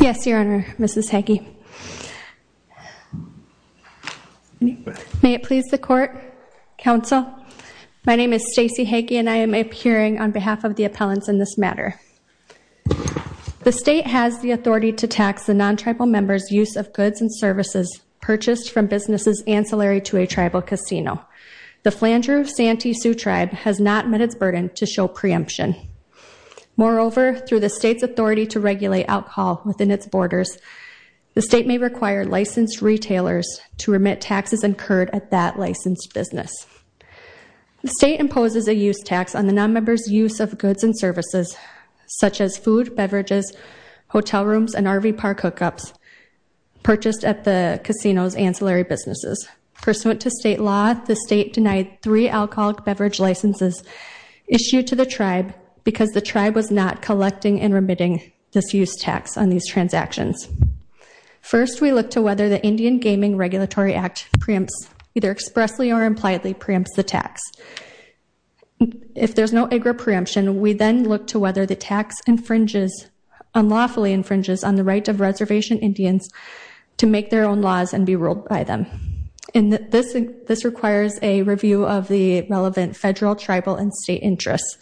Yes, Your Honor, Mrs. Hagee. May it please the Court, Counsel. My name is Stacey Hagee and I am appearing on behalf of the appellants in this matter. The state has the authority to tax the non-tribal members' use of goods and services purchased from businesses ancillary to a tribal casino. The Flandreau Santee Sioux Tribe has not met its burden to show preemption. Moreover, through the state's authority to regulate alcohol within its borders, the state may require licensed retailers to remit taxes incurred at that licensed business. The state imposes a use tax on the non-members' use of goods and services such as food, beverages, hotel rooms, and RV park hookups purchased at the casino's ancillary businesses. Pursuant to state law, the state denied three alcoholic beverage licenses issued to the tribe because the tribe was not collecting and remitting this use tax on these transactions. First, we look to whether the Indian Gaming Regulatory Act preempts either expressly or impliedly preempts the tax. If there's no agri-preemption, we then look to whether the tax unlawfully infringes on the right of reservation Indians to make their own laws and be ruled by them. This requires a review of the relevant federal, tribal, and state interests,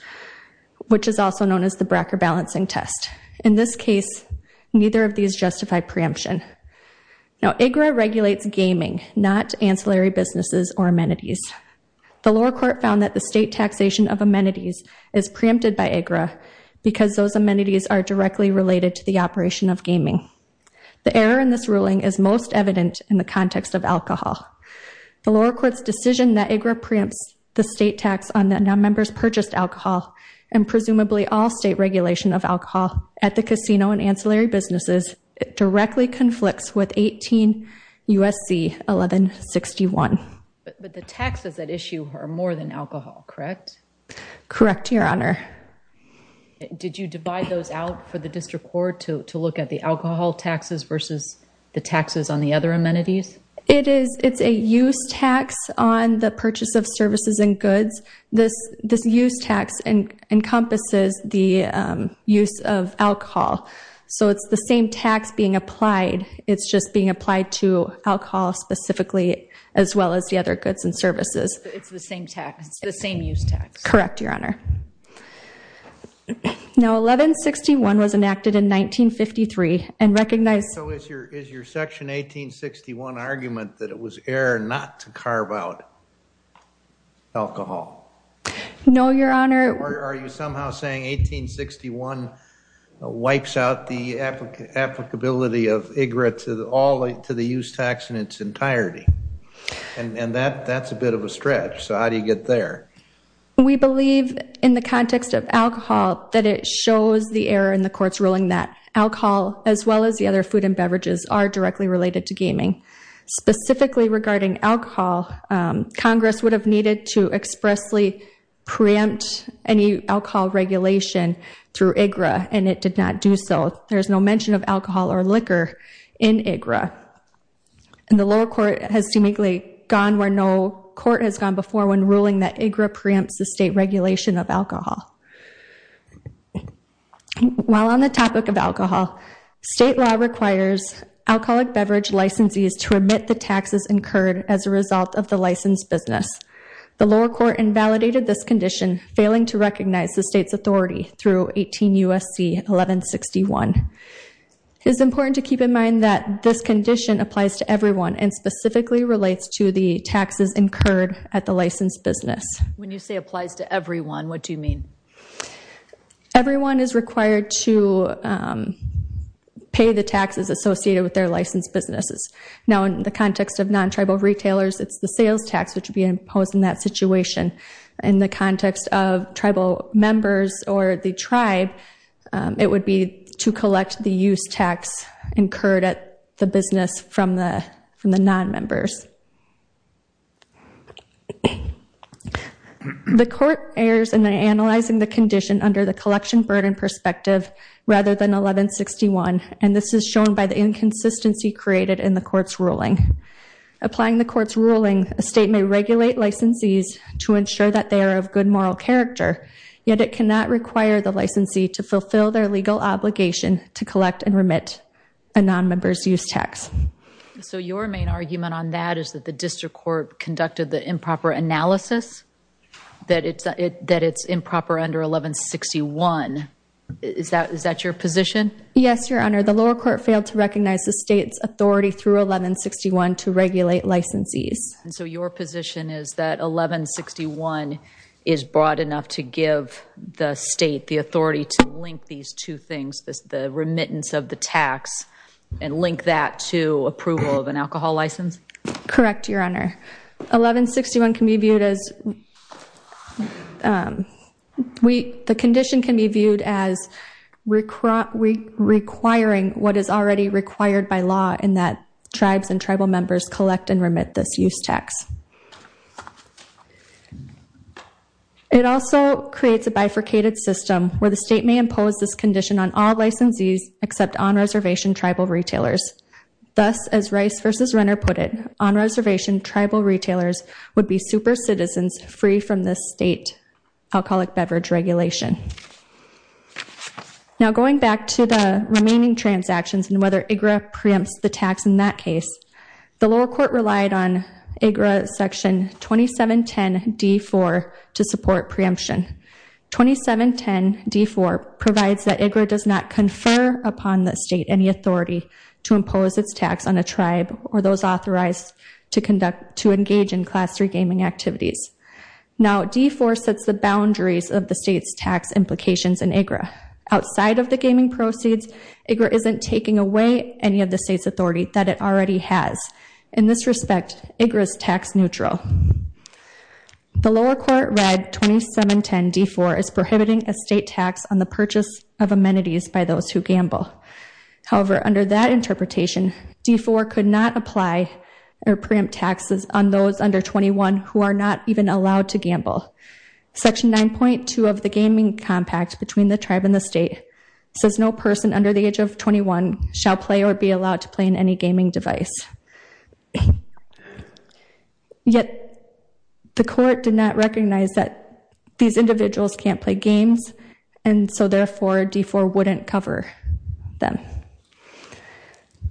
which is also known as the Bracker Balancing Test. In this case, neither of these justify preemption. Now, AGRA regulates gaming, not ancillary businesses or amenities. The lower court found that the state taxation of amenities is preempted by AGRA The error in this ruling is most evident in the context of alcohol. The lower court's decision that AGRA preempts the state tax on the members purchased alcohol and presumably all state regulation of alcohol at the casino and ancillary businesses directly conflicts with 18 U.S.C. 1161. But the taxes at issue are more than alcohol, correct? Correct, Your Honor. Did you divide those out for the district court to look at the alcohol taxes versus the taxes on the other amenities? It's a use tax on the purchase of services and goods. This use tax encompasses the use of alcohol. So it's the same tax being applied. It's just being applied to alcohol specifically as well as the other goods and services. It's the same use tax? Correct, Your Honor. Now 1161 was enacted in 1953 and recognized. So is your section 1861 argument that it was error not to carve out alcohol? No, Your Honor. Are you somehow saying 1861 wipes out the applicability of AGRA to the use tax in its entirety? And that's a bit of a stretch. So how do you get there? We believe in the context of alcohol that it shows the error in the court's ruling that alcohol as well as the other food and beverages are directly related to gaming. Specifically regarding alcohol, Congress would have needed to expressly preempt any alcohol regulation through AGRA, and it did not do so. There is no mention of alcohol or liquor in AGRA. And the lower court has seemingly gone where no court has gone before when ruling that AGRA preempts the state regulation of alcohol. While on the topic of alcohol, state law requires alcoholic beverage licensees to remit the taxes incurred as a result of the licensed business. The lower court invalidated this condition, failing to recognize the state's authority through 18 U.S.C. 1161. It is important to keep in mind that this condition applies to everyone and specifically relates to the taxes incurred at the licensed business. When you say applies to everyone, what do you mean? Everyone is required to pay the taxes associated with their licensed businesses. Now in the context of non-tribal retailers, it's the sales tax which would be imposed in that situation. In the context of tribal members or the tribe, it would be to collect the use tax incurred at the business from the non-members. The court errs in analyzing the condition under the collection burden perspective rather than 1161, and this is shown by the inconsistency created in the court's ruling. Applying the court's ruling, a state may regulate licensees to ensure that they are of good moral character, yet it cannot require the licensee to fulfill their legal obligation to collect and remit a non-member's use tax. So your main argument on that is that the district court conducted the improper analysis, that it's improper under 1161. Is that your position? Yes, Your Honor. The lower court failed to recognize the state's authority through 1161 to regulate licensees. So your position is that 1161 is broad enough to give the state the authority to link these two things, the remittance of the tax, and link that to approval of an alcohol license? Correct, Your Honor. The condition can be viewed as requiring what is already required by law in that tribes and tribal members collect and remit this use tax. It also creates a bifurcated system where the state may impose this condition on all licensees except on-reservation tribal retailers. Thus, as Rice v. Renner put it, on-reservation tribal retailers would be super-citizens free from this state alcoholic beverage regulation. Now going back to the remaining transactions and whether IGRA preempts the tax in that case, the lower court relied on IGRA section 2710d.4 to support preemption. 2710d.4 provides that IGRA does not confer upon the state any authority to impose its tax on a tribe or those authorized to engage in Class III gaming activities. Now, d.4 sets the boundaries of the state's tax implications in IGRA. Outside of the gaming proceeds, IGRA isn't taking away any of the state's authority that it already has. In this respect, IGRA is tax neutral. The lower court read 2710d.4 as prohibiting a state tax on the purchase of amenities by those who gamble. However, under that interpretation, d.4 could not apply or preempt taxes on those under 21 who are not even allowed to gamble. Section 9.2 of the Gaming Compact between the tribe and the state says no person under the age of 21 shall play or be allowed to play in any gaming device. Yet the court did not recognize that these individuals can't play games, and so therefore d.4 wouldn't cover.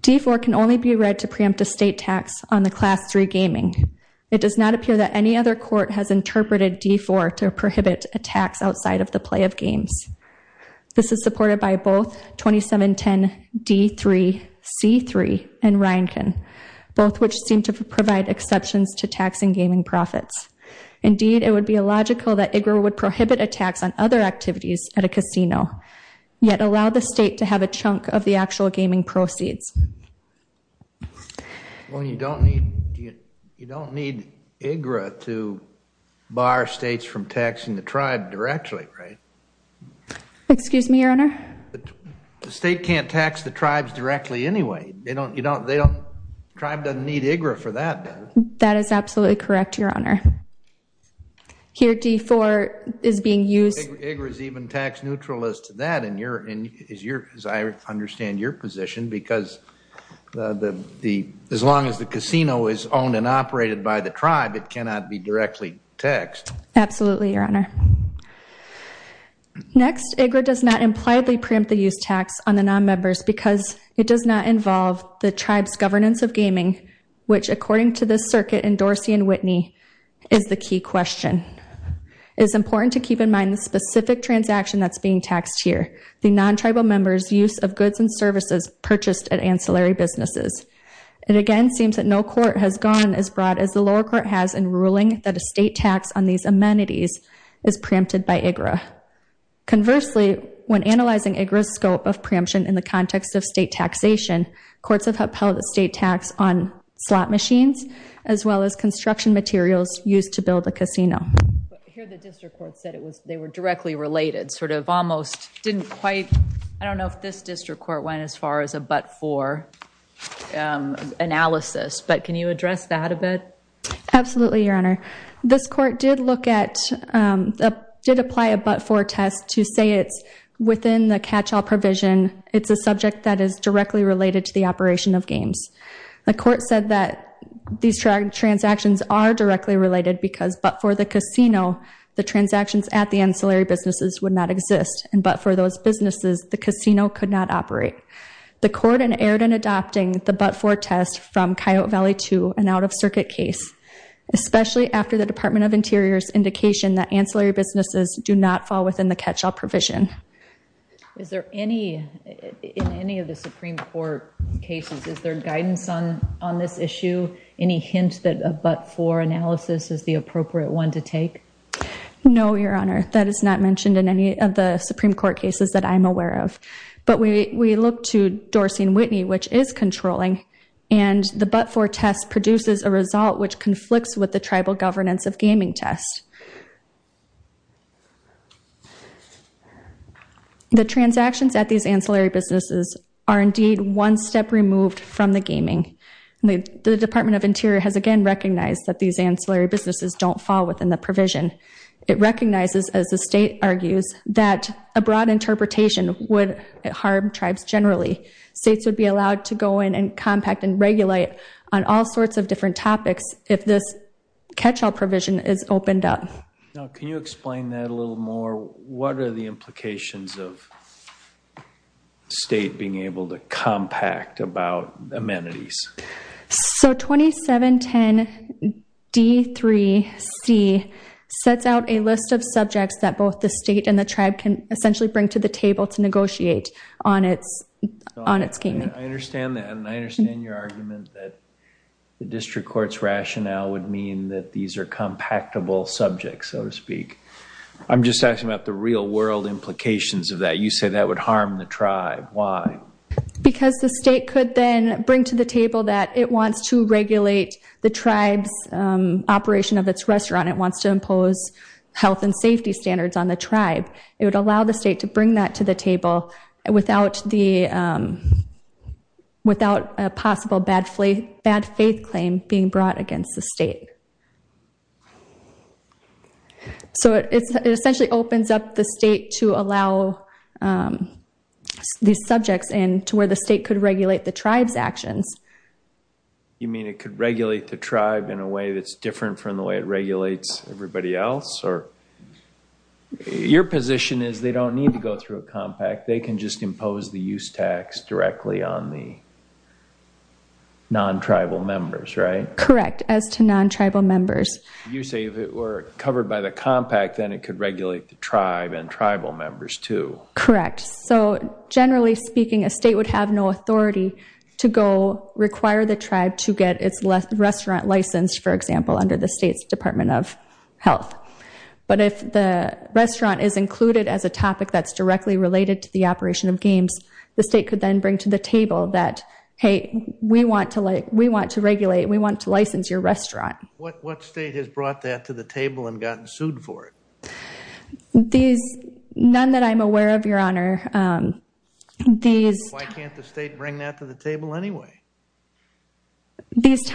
d.4 can only be read to preempt a state tax on the Class III gaming. It does not appear that any other court has interpreted d.4 to prohibit a tax outside of the play of games. This is supported by both 2710d.3c.3 and Ryankin, both which seem to provide exceptions to taxing gaming profits. Indeed, it would be illogical that IGRA would prohibit a tax on other activities at a casino, yet allow the state to have a chunk of the actual gaming proceeds. Well, you don't need IGRA to bar states from taxing the tribe directly, right? Excuse me, Your Honor? The state can't tax the tribes directly anyway. The tribe doesn't need IGRA for that, does it? That is absolutely correct, Your Honor. Here d.4 is being used. IGRA is even tax neutral as to that, as I understand your position, because as long as the casino is owned and operated by the tribe, it cannot be directly taxed. Absolutely, Your Honor. Next, IGRA does not impliedly preempt the use tax on the nonmembers because it does not involve the tribe's governance of gaming, which, according to this circuit in Dorsey and Whitney, is the key question. It is important to keep in mind the specific transaction that's being taxed here, the nontribal members' use of goods and services purchased at ancillary businesses. It again seems that no court has gone as broad as the lower court has in ruling that a state tax on these amenities is preempted by IGRA. Conversely, when analyzing IGRA's scope of preemption in the context of state taxation, courts have upheld the state tax on slot machines as well as construction materials used to build a casino. Here the district court said they were directly related, sort of almost didn't quite. I don't know if this district court went as far as a but-for analysis, but can you address that a bit? Absolutely, Your Honor. This court did apply a but-for test to say it's within the catch-all provision. It's a subject that is directly related to the operation of games. The court said that these transactions are directly related because but for the casino, the transactions at the ancillary businesses would not exist, and but for those businesses, the casino could not operate. The court inerred in adopting the but-for test from Coyote Valley to an out-of-circuit case, especially after the Department of Interior's indication that ancillary businesses do not fall within the catch-all provision. Is there any, in any of the Supreme Court cases, is there guidance on this issue, any hint that a but-for analysis is the appropriate one to take? No, Your Honor. That is not mentioned in any of the Supreme Court cases that I'm aware of. But we look to Dorsey & Whitney, which is controlling, and the but-for test produces a result which conflicts with the tribal governance of gaming test. The transactions at these ancillary businesses are indeed one step removed from the gaming. The Department of Interior has again recognized that these ancillary businesses don't fall within the provision. It recognizes, as the state argues, that a broad interpretation would harm tribes generally. States would be allowed to go in and compact and regulate on all sorts of different topics if this catch-all provision is opened up. Now, can you explain that a little more? What are the implications of state being able to compact about amenities? So 2710D3C sets out a list of subjects that both the state and the tribe can essentially bring to the table to negotiate on its gaming. I understand that. And I understand your argument that the district court's rationale would mean that these are compactable subjects, so to speak. I'm just asking about the real-world implications of that. You say that would harm the tribe. Why? Because the state could then bring to the table that it wants to regulate the tribe's operation of its restaurant. It wants to impose health and safety standards on the tribe. It would allow the state to bring that to the table without a possible bad-faith claim being brought against the state. So it essentially opens up the state to allow these subjects in to where the state could regulate the tribe's actions. You mean it could regulate the tribe in a way that's different from the way it regulates everybody else? Your position is they don't need to go through a compact. They can just impose the use tax directly on the non-tribal members, right? Correct, as to non-tribal members. You say if it were covered by the compact, then it could regulate the tribe and tribal members too. Correct. So generally speaking, a state would have no authority to go require the tribe to get its restaurant licensed, for example, under the state's Department of Health. But if the restaurant is included as a topic that's directly related to the operation of games, the state could then bring to the table that, hey, we want to regulate, we want to license your restaurant. What state has brought that to the table and gotten sued for it? None that I'm aware of, Your Honor. Why can't the state bring that to the table anyway? What's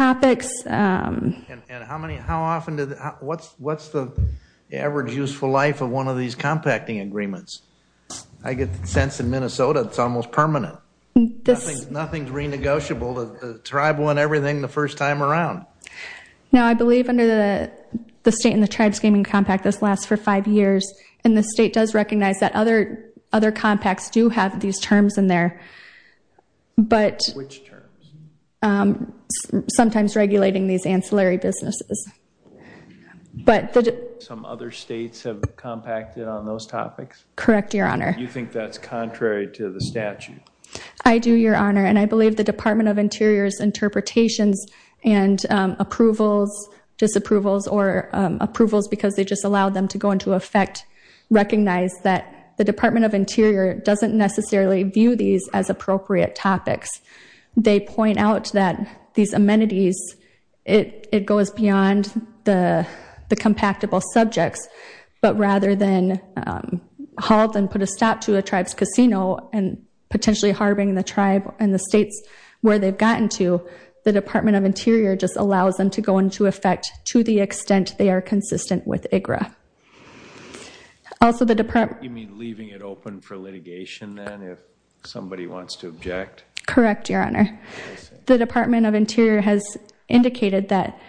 the average useful life of one of these compacting agreements? I get the sense in Minnesota it's almost permanent. Nothing's renegotiable. The tribe won everything the first time around. No, I believe under the state and the tribe's gaming compact, this lasts for five years, and the state does recognize that other compacts do have these terms in there. Which terms? Sometimes regulating these ancillary businesses. Some other states have compacted on those topics? Correct, Your Honor. You think that's contrary to the statute? I do, Your Honor, and I believe the Department of Interior's interpretations and approvals, disapprovals or approvals because they just allow them to go into effect, recognize that the Department of Interior doesn't necessarily view these as appropriate topics. They point out that these amenities, it goes beyond the compactable subjects, but rather than halt and put a stop to a tribe's casino and potentially harboring the tribe and the states where they've gotten to, the Department of Interior just allows them to go into effect to the extent they are consistent with IGRA. You mean leaving it open for litigation then if somebody wants to object? Correct, Your Honor. The Department of Interior has indicated that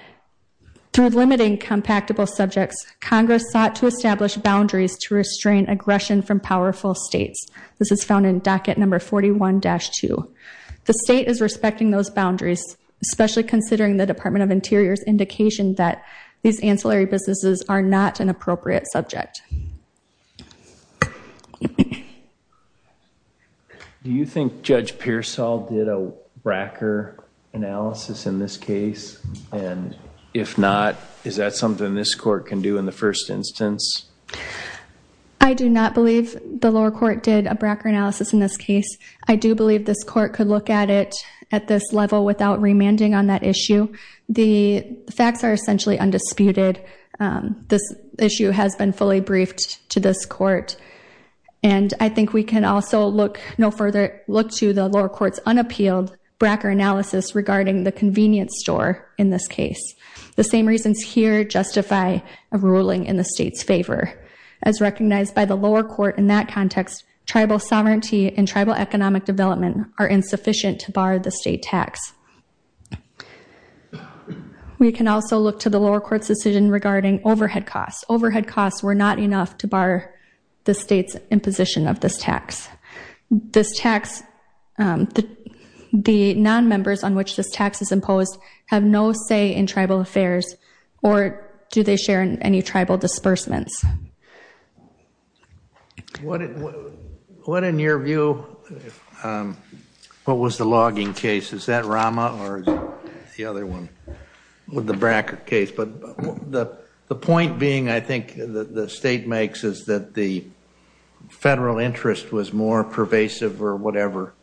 through limiting compactable subjects, Congress sought to establish boundaries to restrain aggression from powerful states. This is found in docket number 41-2. The state is respecting those boundaries, especially considering the Department of Interior's indication that these ancillary businesses are not an appropriate subject. Do you think Judge Pearsall did a bracker analysis in this case? And if not, is that something this court can do in the first instance? I do not believe the lower court did a bracker analysis in this case. I do believe this court could look at it at this level without remanding on that issue. The facts are essentially undisputed. This issue has been fully briefed to this court, and I think we can also no further look to the lower court's unappealed bracker analysis regarding the convenience store in this case. As recognized by the lower court in that context, tribal sovereignty and tribal economic development are insufficient to bar the state tax. We can also look to the lower court's decision regarding overhead costs. Overhead costs were not enough to bar the state's imposition of this tax. The nonmembers on which this tax is imposed have no say in tribal affairs, or do they share any tribal disbursements? What, in your view, what was the logging case? Is that Rama or is it the other one with the bracker case? But the point being, I think, that the state makes is that the federal interest was more pervasive or whatever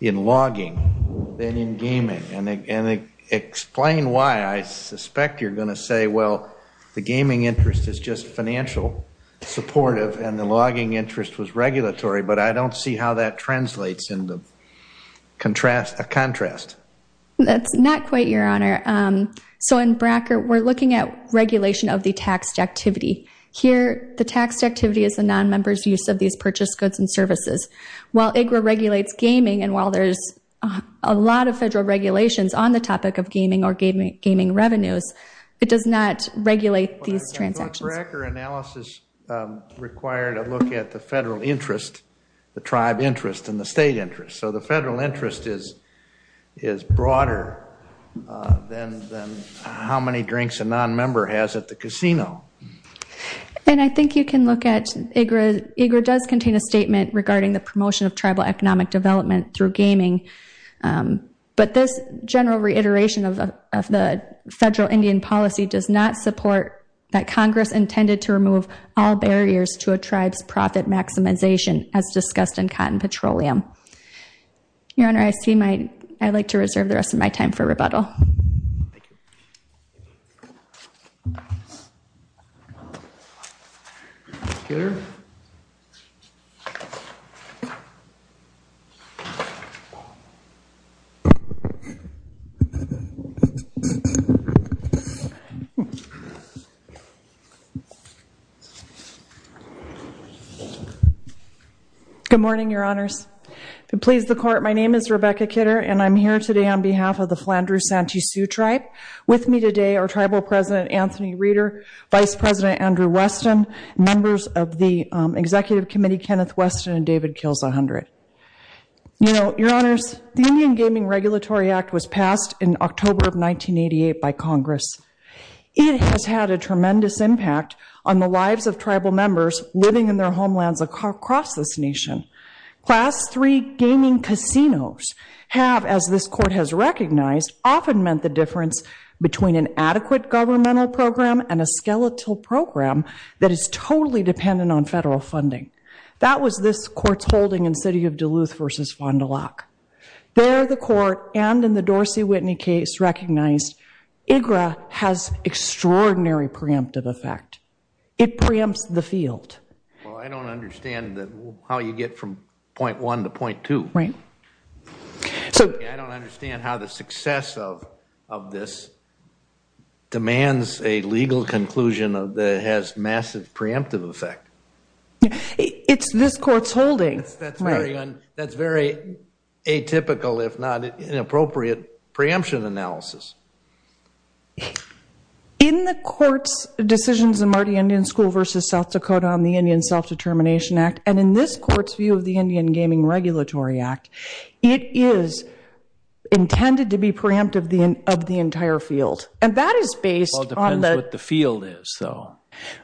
in logging than in gaming. Explain why. I suspect you're going to say, well, the gaming interest is just financial supportive and the logging interest was regulatory, but I don't see how that translates into a contrast. That's not quite, Your Honor. So in bracker, we're looking at regulation of the taxed activity. Here, the taxed activity is the nonmembers' use of these purchased goods and services. While IGRA regulates gaming and while there's a lot of federal regulations on the topic of gaming or gaming revenues, it does not regulate these transactions. The bracker analysis required a look at the federal interest, the tribe interest, and the state interest. So the federal interest is broader than how many drinks a nonmember has at the casino. And I think you can look at IGRA. IGRA does contain a statement regarding the promotion of tribal economic development through gaming, but this general reiteration of the federal Indian policy does not support that Congress intended to remove all barriers to a tribe's profit maximization as discussed in cotton petroleum. Your Honor, I'd like to reserve the rest of my time for rebuttal. Kitter? Good morning, Your Honors. If it pleases the Court, my name is Rebecca Kitter, and I'm here today on behalf of the Flandreau-Santee Sioux Tribe. With me today are Tribal President Anthony Reeder, Vice President Andrew Weston, members of the Executive Committee Kenneth Weston and David Kills 100. You know, Your Honors, the Indian Gaming Regulatory Act was passed in October of 1988 by Congress. It has had a tremendous impact on the lives of tribal members living in their homelands across this nation. Class III gaming casinos have, as this Court has recognized, often meant the difference between an adequate governmental program and a skeletal program that is totally dependent on federal funding. That was this Court's holding in City of Duluth v. Fond du Lac. There, the Court, and in the Dorsey-Whitney case recognized, IGRA has extraordinary preemptive effect. It preempts the field. Well, I don't understand how you get from point one to point two. Right. I don't understand how the success of this demands a legal conclusion that has massive preemptive effect. It's this Court's holding. That's very atypical, if not inappropriate, preemption analysis. In the Court's decisions in Marty Indian School v. South Dakota on the Indian Self-Determination Act, and in this Court's view of the Indian Gaming Regulatory Act, it is intended to be preemptive of the entire field. And that is based on the- Well, it depends what the field is, though.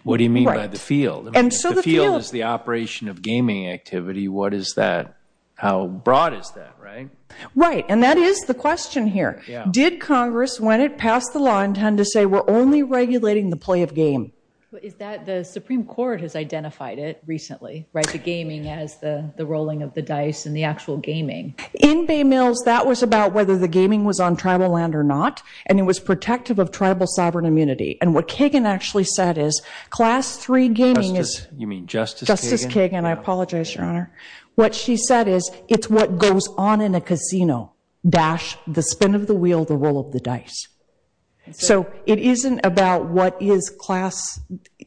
What do you mean by the field? Right. And so the field- If the field is the operation of gaming activity, what is that? How broad is that, right? Right. And that is the question here. Did Congress, when it passed the law, intend to say we're only regulating the play of game? The Supreme Court has identified it recently, right, the gaming as the rolling of the dice and the actual gaming. In Bay Mills, that was about whether the gaming was on tribal land or not, and it was protective of tribal sovereign immunity. And what Kagan actually said is Class III gaming is- You mean Justice Kagan? Justice Kagan. I apologize, Your Honor. What she said is it's what goes on in a casino, dash, the spin of the wheel, the roll of the dice. So it isn't about what is class-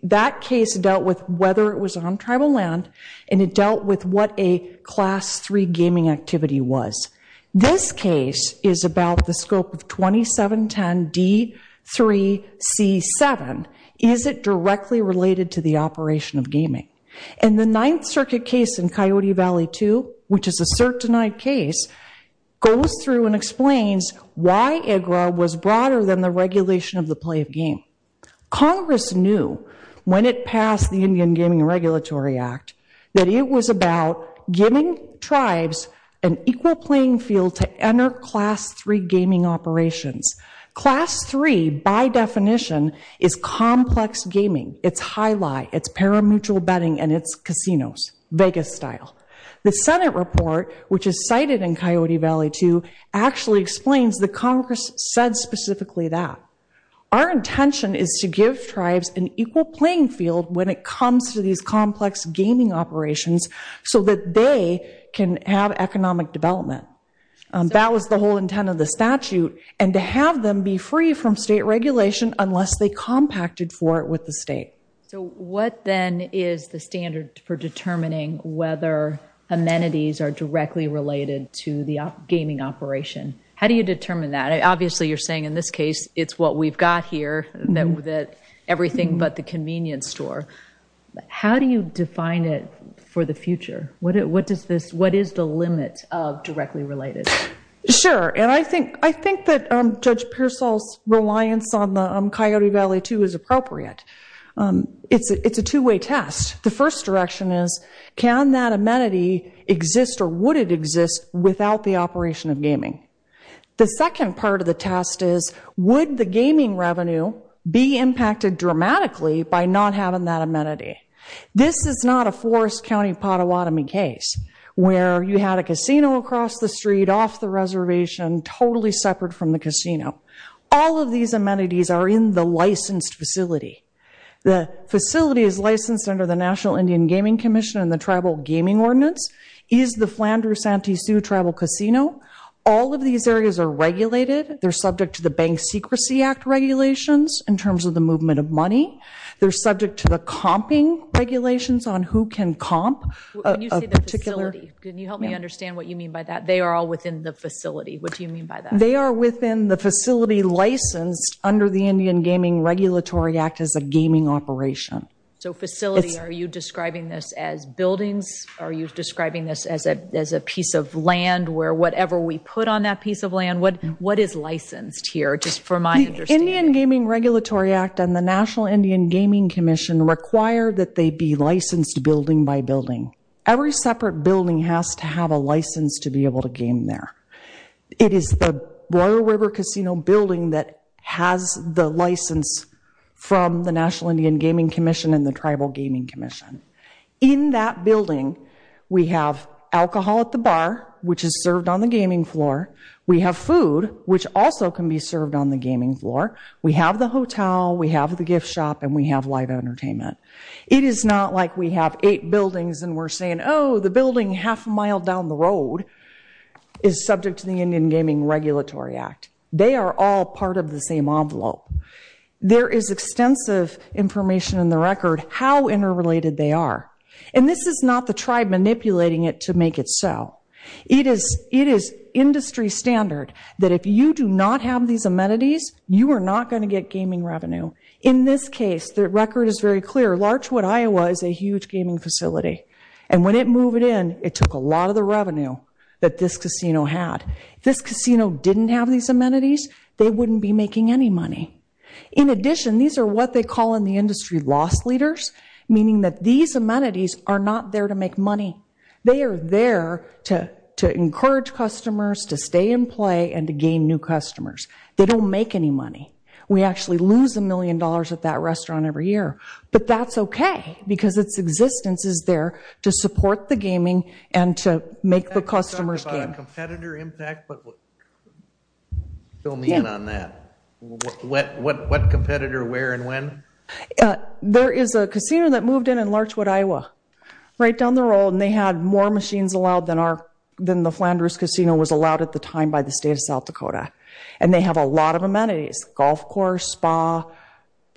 That case dealt with whether it was on tribal land, and it dealt with what a Class III gaming activity was. This case is about the scope of 2710D3C7. And the Ninth Circuit case in Coyote Valley II, which is a cert denied case, goes through and explains why IGRA was broader than the regulation of the play of game. Congress knew when it passed the Indian Gaming Regulatory Act that it was about giving tribes an equal playing field to enter Class III gaming operations. Class III, by definition, is complex gaming. It's high-lie, it's paramutual betting, and it's casinos, Vegas-style. The Senate report, which is cited in Coyote Valley II, actually explains that Congress said specifically that. Our intention is to give tribes an equal playing field when it comes to these complex gaming operations so that they can have economic development. That was the whole intent of the statute, and to have them be free from state regulation unless they compacted for it with the state. So what, then, is the standard for determining whether amenities are directly related to the gaming operation? How do you determine that? Obviously, you're saying in this case, it's what we've got here, everything but the convenience store. How do you define it for the future? What is the limit of directly related? Sure, and I think that Judge Pearsall's reliance on the Coyote Valley II is appropriate. It's a two-way test. The first direction is, can that amenity exist or would it exist without the operation of gaming? The second part of the test is, would the gaming revenue be impacted dramatically by not having that amenity? This is not a Forest County, Pottawatomie case where you had a casino across the street, off the reservation, totally separate from the casino. All of these amenities are in the licensed facility. The facility is licensed under the National Indian Gaming Commission, and the Tribal Gaming Ordinance is the Flandreau-Santee Sioux Tribal Casino. All of these areas are regulated. They're subject to the Bank Secrecy Act regulations in terms of the movement of money. They're subject to the comping regulations on who can comp. When you say the facility, can you help me understand what you mean by that? They are all within the facility. What do you mean by that? They are within the facility licensed under the Indian Gaming Regulatory Act as a gaming operation. So facility, are you describing this as buildings? Are you describing this as a piece of land where whatever we put on that piece of land, what is licensed here, just for my understanding? The Indian Gaming Regulatory Act and the National Indian Gaming Commission require that they be licensed building by building. Every separate building has to have a license to be able to game there. It is the Royal River Casino building that has the license from the National Indian Gaming Commission and the Tribal Gaming Commission. In that building, we have alcohol at the bar, which is served on the gaming floor. We have food, which also can be served on the gaming floor. We have the hotel, we have the gift shop, and we have live entertainment. It is not like we have eight buildings and we're saying, oh, the building half a mile down the road is subject to the Indian Gaming Regulatory Act. They are all part of the same envelope. There is extensive information in the record how interrelated they are. And this is not the tribe manipulating it to make it so. It is industry standard that if you do not have these amenities, you are not going to get gaming revenue. In this case, the record is very clear. Larchwood, Iowa, is a huge gaming facility. And when it moved in, it took a lot of the revenue that this casino had. If this casino didn't have these amenities, they wouldn't be making any money. In addition, these are what they call in the industry loss leaders, meaning that these amenities are not there to make money. They are there to encourage customers to stay and play and to gain new customers. They don't make any money. We actually lose a million dollars at that restaurant every year. But that's okay because its existence is there to support the gaming and to make the customers gain. You talked about a competitor impact, but fill me in on that. What competitor, where, and when? There is a casino that moved in in Larchwood, Iowa, right down the road, and they had more machines allowed than the Flanders Casino was allowed at the time by the state of South Dakota. And they have a lot of amenities, golf course, spa,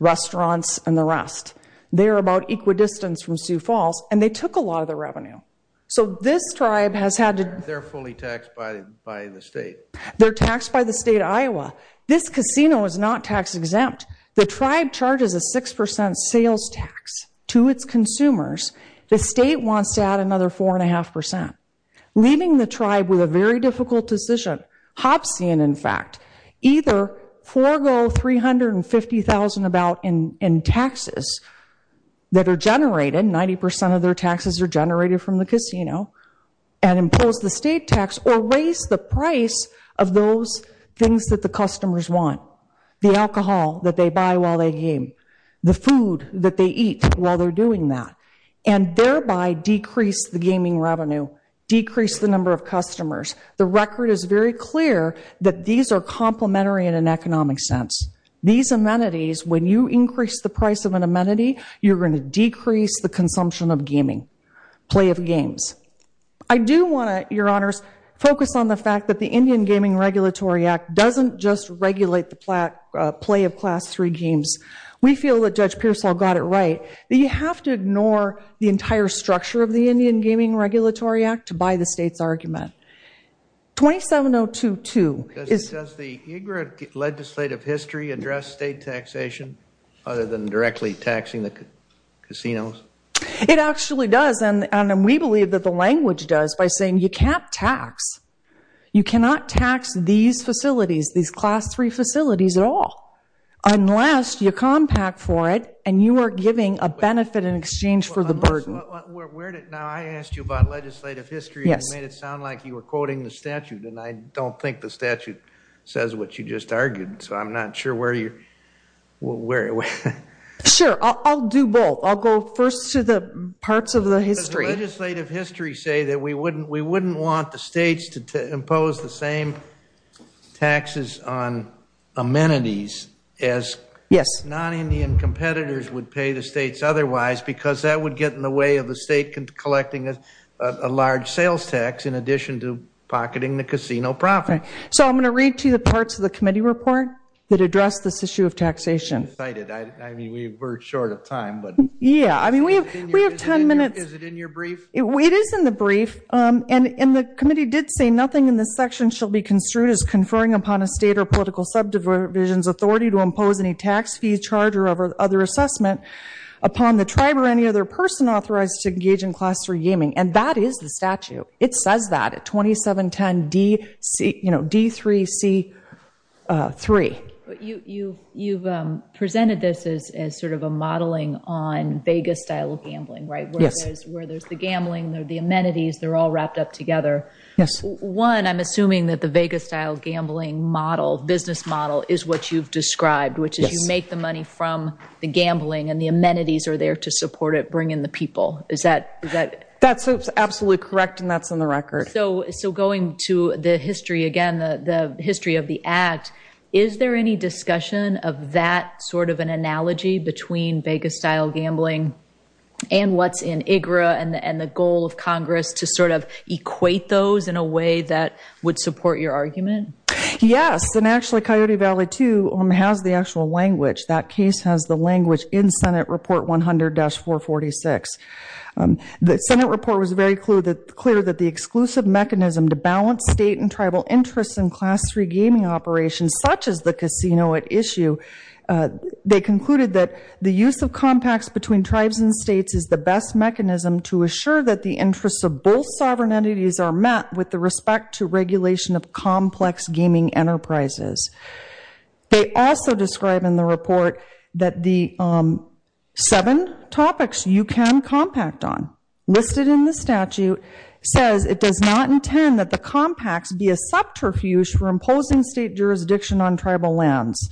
restaurants, and the rest. They are about equidistant from Sioux Falls, and they took a lot of the revenue. So this tribe has had to do... They're fully taxed by the state. They're taxed by the state of Iowa. This casino is not tax-exempt. The tribe charges a 6% sales tax to its consumers. The state wants to add another 4.5%. Leaving the tribe with a very difficult decision, Hobbesian, in fact, either forego $350,000 about in taxes that are generated, 90% of their taxes are generated from the casino, and impose the state tax or raise the price of those things that the customers want, the alcohol that they buy while they game, the food that they eat while they're doing that, and thereby decrease the gaming revenue, decrease the number of customers. The record is very clear that these are complementary in an economic sense. These amenities, when you increase the price of an amenity, you're going to decrease the consumption of gaming, play of games. I do want to, Your Honors, focus on the fact that the Indian Gaming Regulatory Act doesn't just regulate the play of Class III games. We feel that Judge Pearsall got it right, that you have to ignore the entire structure of the Indian Gaming Regulatory Act to buy the state's argument. 27022 is- Does the UGRA legislative history address state taxation other than directly taxing the casinos? It actually does, and we believe that the language does by saying you can't tax. You cannot tax these facilities, these Class III facilities at all, unless you compact for it and you are giving a benefit in exchange for the burden. Now, I asked you about legislative history, and you made it sound like you were quoting the statute, and I don't think the statute says what you just argued, so I'm not sure where you're- Sure, I'll do both. I'll go first to the parts of the history. Does legislative history say that we wouldn't want the states to impose the same taxes on amenities as non-Indian competitors would pay the states otherwise because that would get in the way of the state collecting a large sales tax in addition to pocketing the casino profit? So I'm going to read to you the parts of the committee report that address this issue of taxation. I'm excited. I mean, we were short of time, but- Yeah, I mean, we have ten minutes. Is it in your brief? It is in the brief, and the committee did say nothing in this section shall be construed as conferring upon a state or political subdivision's authority to impose any tax fee, charge, or other assessment upon the tribe or any other person authorized to engage in Class III gaming, and that is the statute. It says that at 2710 D3C3. But you've presented this as sort of a modeling on Vegas-style gambling, right? Yes. Where there's the gambling, the amenities, they're all wrapped up together. Yes. One, I'm assuming that the Vegas-style gambling model, business model, is what you've described, which is you make the money from the gambling and the amenities are there to support it, bring in the people. Is that- That's absolutely correct, and that's on the record. So going to the history again, the history of the act, is there any discussion of that sort of an analogy between Vegas-style gambling and what's in IGRA and the goal of Congress to sort of equate those in a way that would support your argument? Yes, and actually Coyote Valley, too, has the actual language. That case has the language in Senate Report 100-446. The Senate report was very clear that the exclusive mechanism to balance state and tribal interests in Class III gaming operations, such as the casino at issue, they concluded that the use of compacts between tribes and states is the best mechanism to assure that the interests of both sovereign entities are met with the respect to regulation of complex gaming enterprises. They also describe in the report that the seven topics you can compact on listed in the statute says it does not intend that the compacts be a subterfuge for imposing state jurisdiction on tribal lands.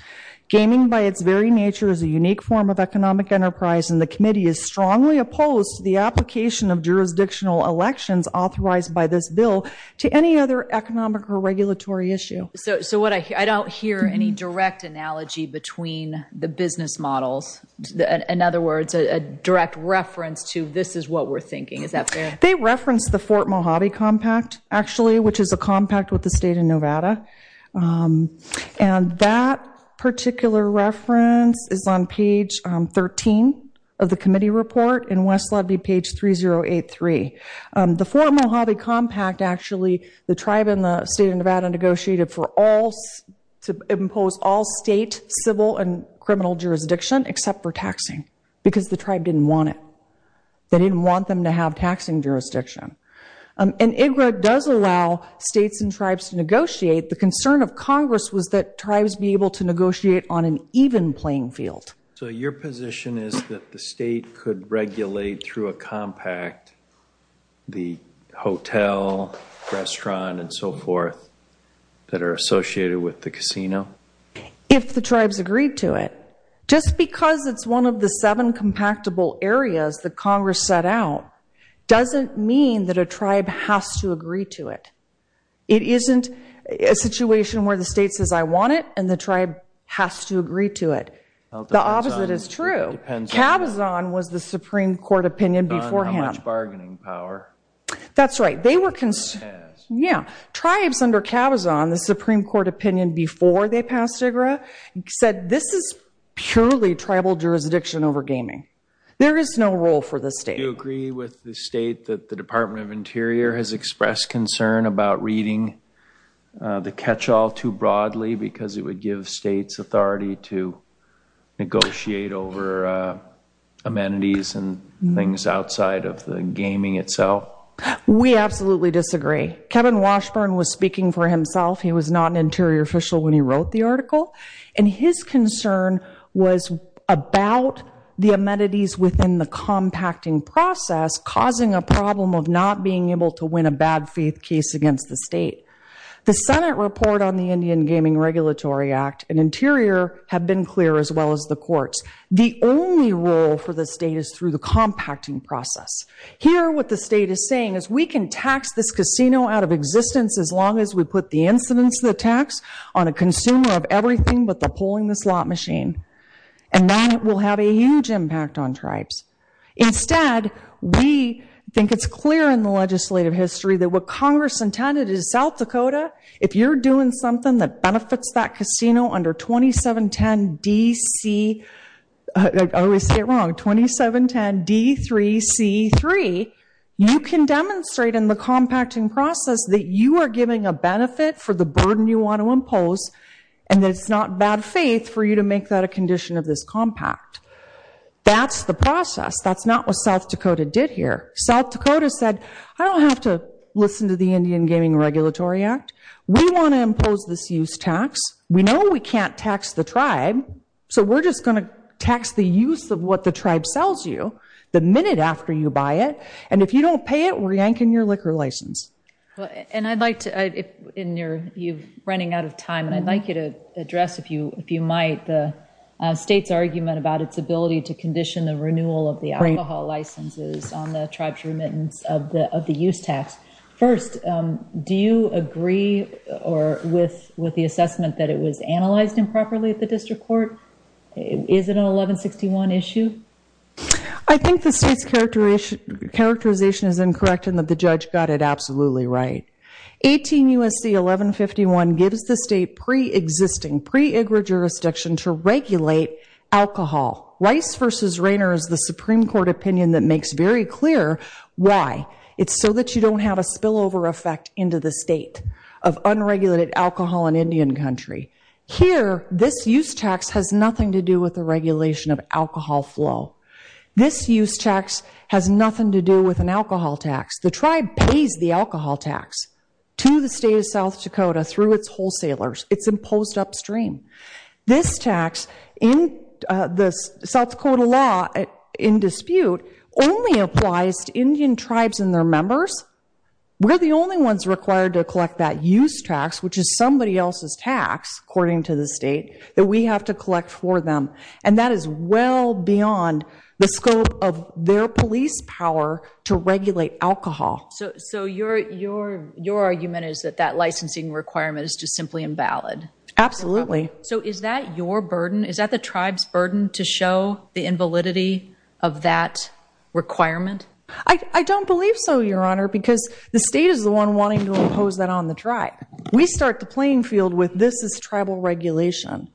Gaming by its very nature is a unique form of economic enterprise, and the committee is strongly opposed to the application of jurisdictional elections authorized by this bill to any other economic or regulatory issue. So I don't hear any direct analogy between the business models. In other words, a direct reference to this is what we're thinking. Is that fair? They reference the Fort Mojave Compact, actually, which is a compact with the state of Nevada. And that particular reference is on page 13 of the committee report in West Ludbe, page 3083. The Fort Mojave Compact, actually, the tribe in the state of Nevada negotiated to impose all state civil and criminal jurisdiction except for taxing because the tribe didn't want it. And IGRA does allow states and tribes to negotiate. The concern of Congress was that tribes be able to negotiate on an even playing field. So your position is that the state could regulate through a compact the hotel, restaurant, and so forth that are associated with the casino? If the tribes agreed to it. Just because it's one of the seven compactable areas that Congress set out doesn't mean that a tribe has to agree to it. It isn't a situation where the state says, I want it, and the tribe has to agree to it. The opposite is true. Cabazon was the Supreme Court opinion beforehand. On how much bargaining power. That's right. Tribes under Cabazon, the Supreme Court opinion before they passed IGRA, said this is purely tribal jurisdiction over gaming. There is no role for the state. Do you agree with the state that the Department of Interior has expressed concern about reading the catch-all too broadly because it would give states authority to negotiate over amenities and things outside of the gaming itself? We absolutely disagree. Kevin Washburn was speaking for himself. His concern was about the amenities within the compacting process causing a problem of not being able to win a bad faith case against the state. The Senate report on the Indian Gaming Regulatory Act and Interior have been clear as well as the courts. The only role for the state is through the compacting process. Here what the state is saying is we can tax this casino out of existence as long as we put the incidence of the tax on a consumer of everything but the pulling the slot machine. And that will have a huge impact on tribes. Instead, we think it's clear in the legislative history that what Congress intended is South Dakota, if you're doing something that benefits that casino under 2710D3C3, you can demonstrate in the compacting process that you are giving a benefit for the burden you want to impose and that it's not bad faith for you to make that a condition of this compact. That's the process. That's not what South Dakota did here. South Dakota said, I don't have to listen to the Indian Gaming Regulatory Act. We want to impose this use tax. We know we can't tax the tribe, so we're just going to tax the use of what the tribe sells you the minute after you buy it. And if you don't pay it, we're yanking your liquor license. And I'd like to, you're running out of time, and I'd like you to address, if you might, the state's argument about its ability to condition the renewal of the alcohol licenses on the tribe's remittance of the use tax. First, do you agree with the assessment that it was analyzed improperly at the district court? Is it an 1161 issue? I think the state's characterization is incorrect and that the judge got it absolutely right. 18 U.S.C. 1151 gives the state pre-existing, pre-IGRA jurisdiction to regulate alcohol. Rice v. Rainer is the Supreme Court opinion that makes very clear why. It's so that you don't have a spillover effect into the state of unregulated alcohol in Indian Country. Here, this use tax has nothing to do with the regulation of alcohol flow. This use tax has nothing to do with an alcohol tax. The tribe pays the alcohol tax to the state of South Dakota through its wholesalers. It's imposed upstream. This tax in the South Dakota law in dispute only applies to Indian tribes and their members. We're the only ones required to collect that use tax, which is somebody else's tax, according to the state, that we have to collect for them. And that is well beyond the scope of their police power to regulate alcohol. So your argument is that that licensing requirement is just simply invalid? Absolutely. So is that your burden? Is that the tribe's burden to show the invalidity of that requirement? I don't believe so, Your Honor, because the state is the one wanting to impose that on the tribe. We start the playing field with this is tribal regulation.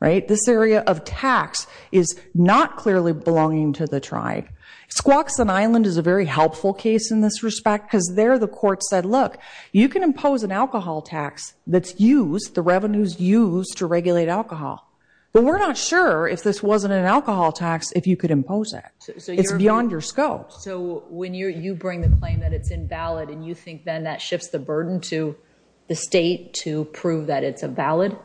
This area of tax is not clearly belonging to the tribe. Squaxin Island is a very helpful case in this respect because there the court said, look, you can impose an alcohol tax that's used, the revenues used to regulate alcohol. But we're not sure if this wasn't an alcohol tax if you could impose it. It's beyond your scope. So when you bring the claim that it's invalid and you think then that shifts the burden to the state to prove that it's invalid?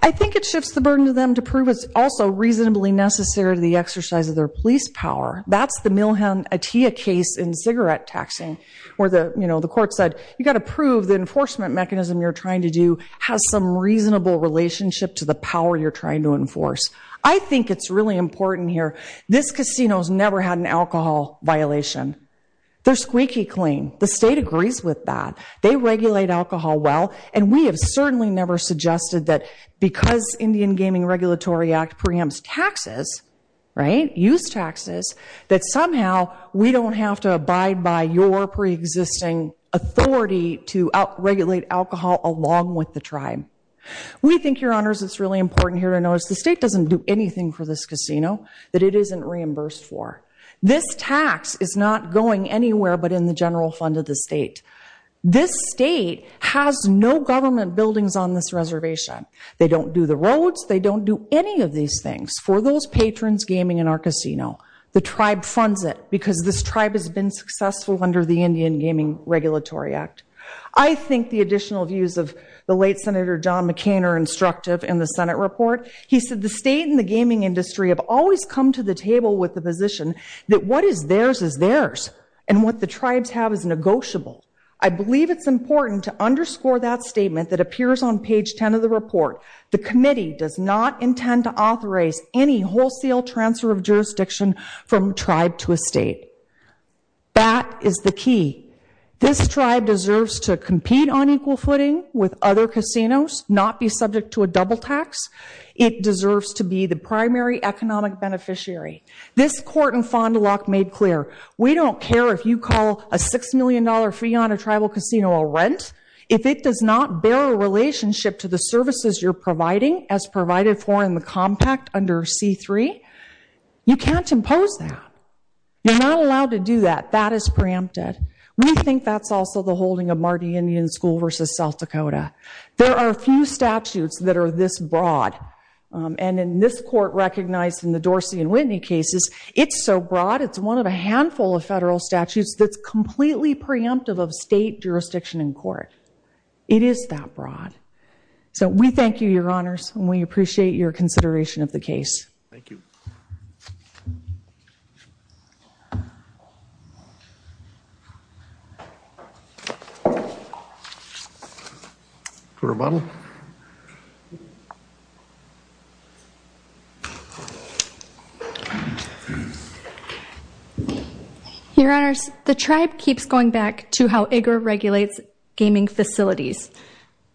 I think it shifts the burden to them to prove it's also reasonably necessary to the exercise of their police power. That's the Milham Atiyah case in cigarette taxing where the court said, you've got to prove the enforcement mechanism you're trying to do has some reasonable relationship to the power you're trying to enforce. I think it's really important here. This casino's never had an alcohol violation. They're squeaky clean. The state agrees with that. They regulate alcohol well. And we have certainly never suggested that because Indian Gaming Regulatory Act preempts taxes, right, use taxes, that somehow we don't have to abide by your preexisting authority to regulate alcohol along with the tribe. We think, Your Honors, it's really important here to notice the state doesn't do anything for this casino that it isn't reimbursed for. This tax is not going anywhere but in the general fund of the state. This state has no government buildings on this reservation. They don't do the roads. They don't do any of these things for those patrons gaming in our casino. The tribe funds it because this tribe has been successful under the Indian Gaming Regulatory Act. I think the additional views of the late Senator John McCain are instructive in the Senate report. He said the state and the gaming industry have always come to the table with the position that what is theirs is theirs and what the tribes have is negotiable. I believe it's important to underscore that statement that appears on page 10 of the report. The committee does not intend to authorize any wholesale transfer of jurisdiction from tribe to a state. That is the key. This tribe deserves to compete on equal footing with other casinos, not be subject to a double tax. It deserves to be the primary economic beneficiary. This court in Fond du Lac made clear we don't care if you call a $6 million fee on a tribal casino a rent. If it does not bear a relationship to the services you're providing as provided for in the compact under C-3, you can't impose that. You're not allowed to do that. That is preempted. We think that's also the holding of Marty Indian School v. South Dakota. There are a few statutes that are this broad, and in this court recognized in the Dorsey and Whitney cases, it's so broad it's one of a handful of federal statutes that's completely preemptive of state jurisdiction in court. It is that broad. So we thank you, Your Honors, and we appreciate your consideration of the case. Thank you. Court of audit. Your Honors, the tribe keeps going back to how IGRA regulates gaming facilities,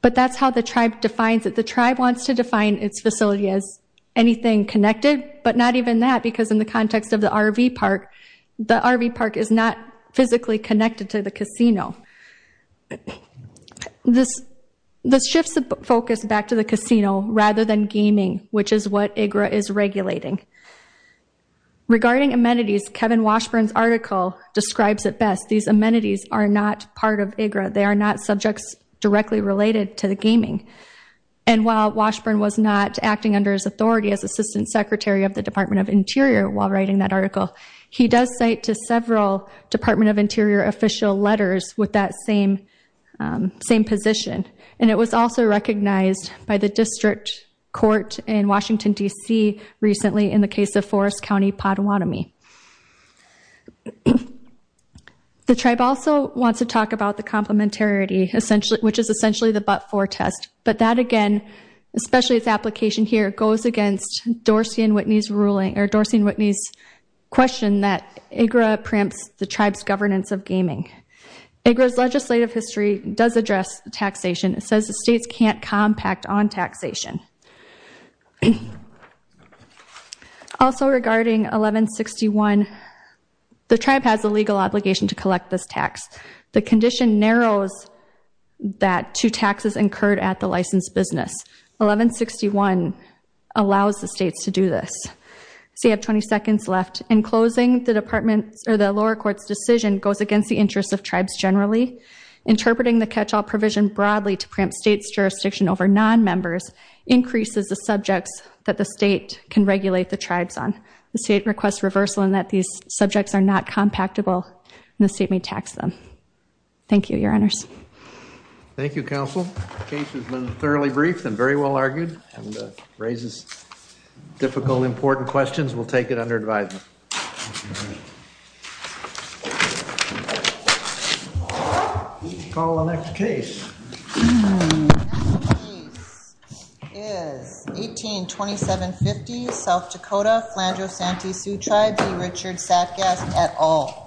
but that's how the tribe defines it. The tribe wants to define its facility as anything connected, but not even that because in the context of the RV park, the RV park is not physically connected to the casino. This shifts the focus back to the casino rather than gaming, which is what IGRA is regulating. Regarding amenities, Kevin Washburn's article describes it best. These amenities are not part of IGRA. They are not subjects directly related to the gaming. And while Washburn was not acting under his authority as Assistant Secretary of the Department of Interior while writing that article, he does cite to several Department of Interior official letters with that same position. And it was also recognized by the district court in Washington, D.C., recently in the case of Forest County Potawatomi. The tribe also wants to talk about the complementarity, which is essentially the but-for test. But that, again, especially its application here, goes against Dorsey and Whitney's question that IGRA preempts the tribe's governance of gaming. IGRA's legislative history does address taxation. It says the states can't compact on taxation. Also regarding 1161, the tribe has a legal obligation to collect this tax. The condition narrows that to taxes incurred at the licensed business. 1161 allows the states to do this. So you have 20 seconds left. In closing, the lower court's decision goes against the interests of tribes generally. Interpreting the catch-all provision broadly to preempt states' jurisdiction over non-members increases the subjects that the state can regulate the tribes on. The state requests reversal in that these subjects are not compactable, and the state may tax them. Thank you, Your Honors. Thank you, Counsel. The case has been thoroughly briefed and very well argued and raises difficult, important questions. We'll take it under advisement. Let's call the next case. The next case is 182750, South Dakota, Flandreau-Santee Sioux Tribe, B. Richard Satgast, et al. Thank you.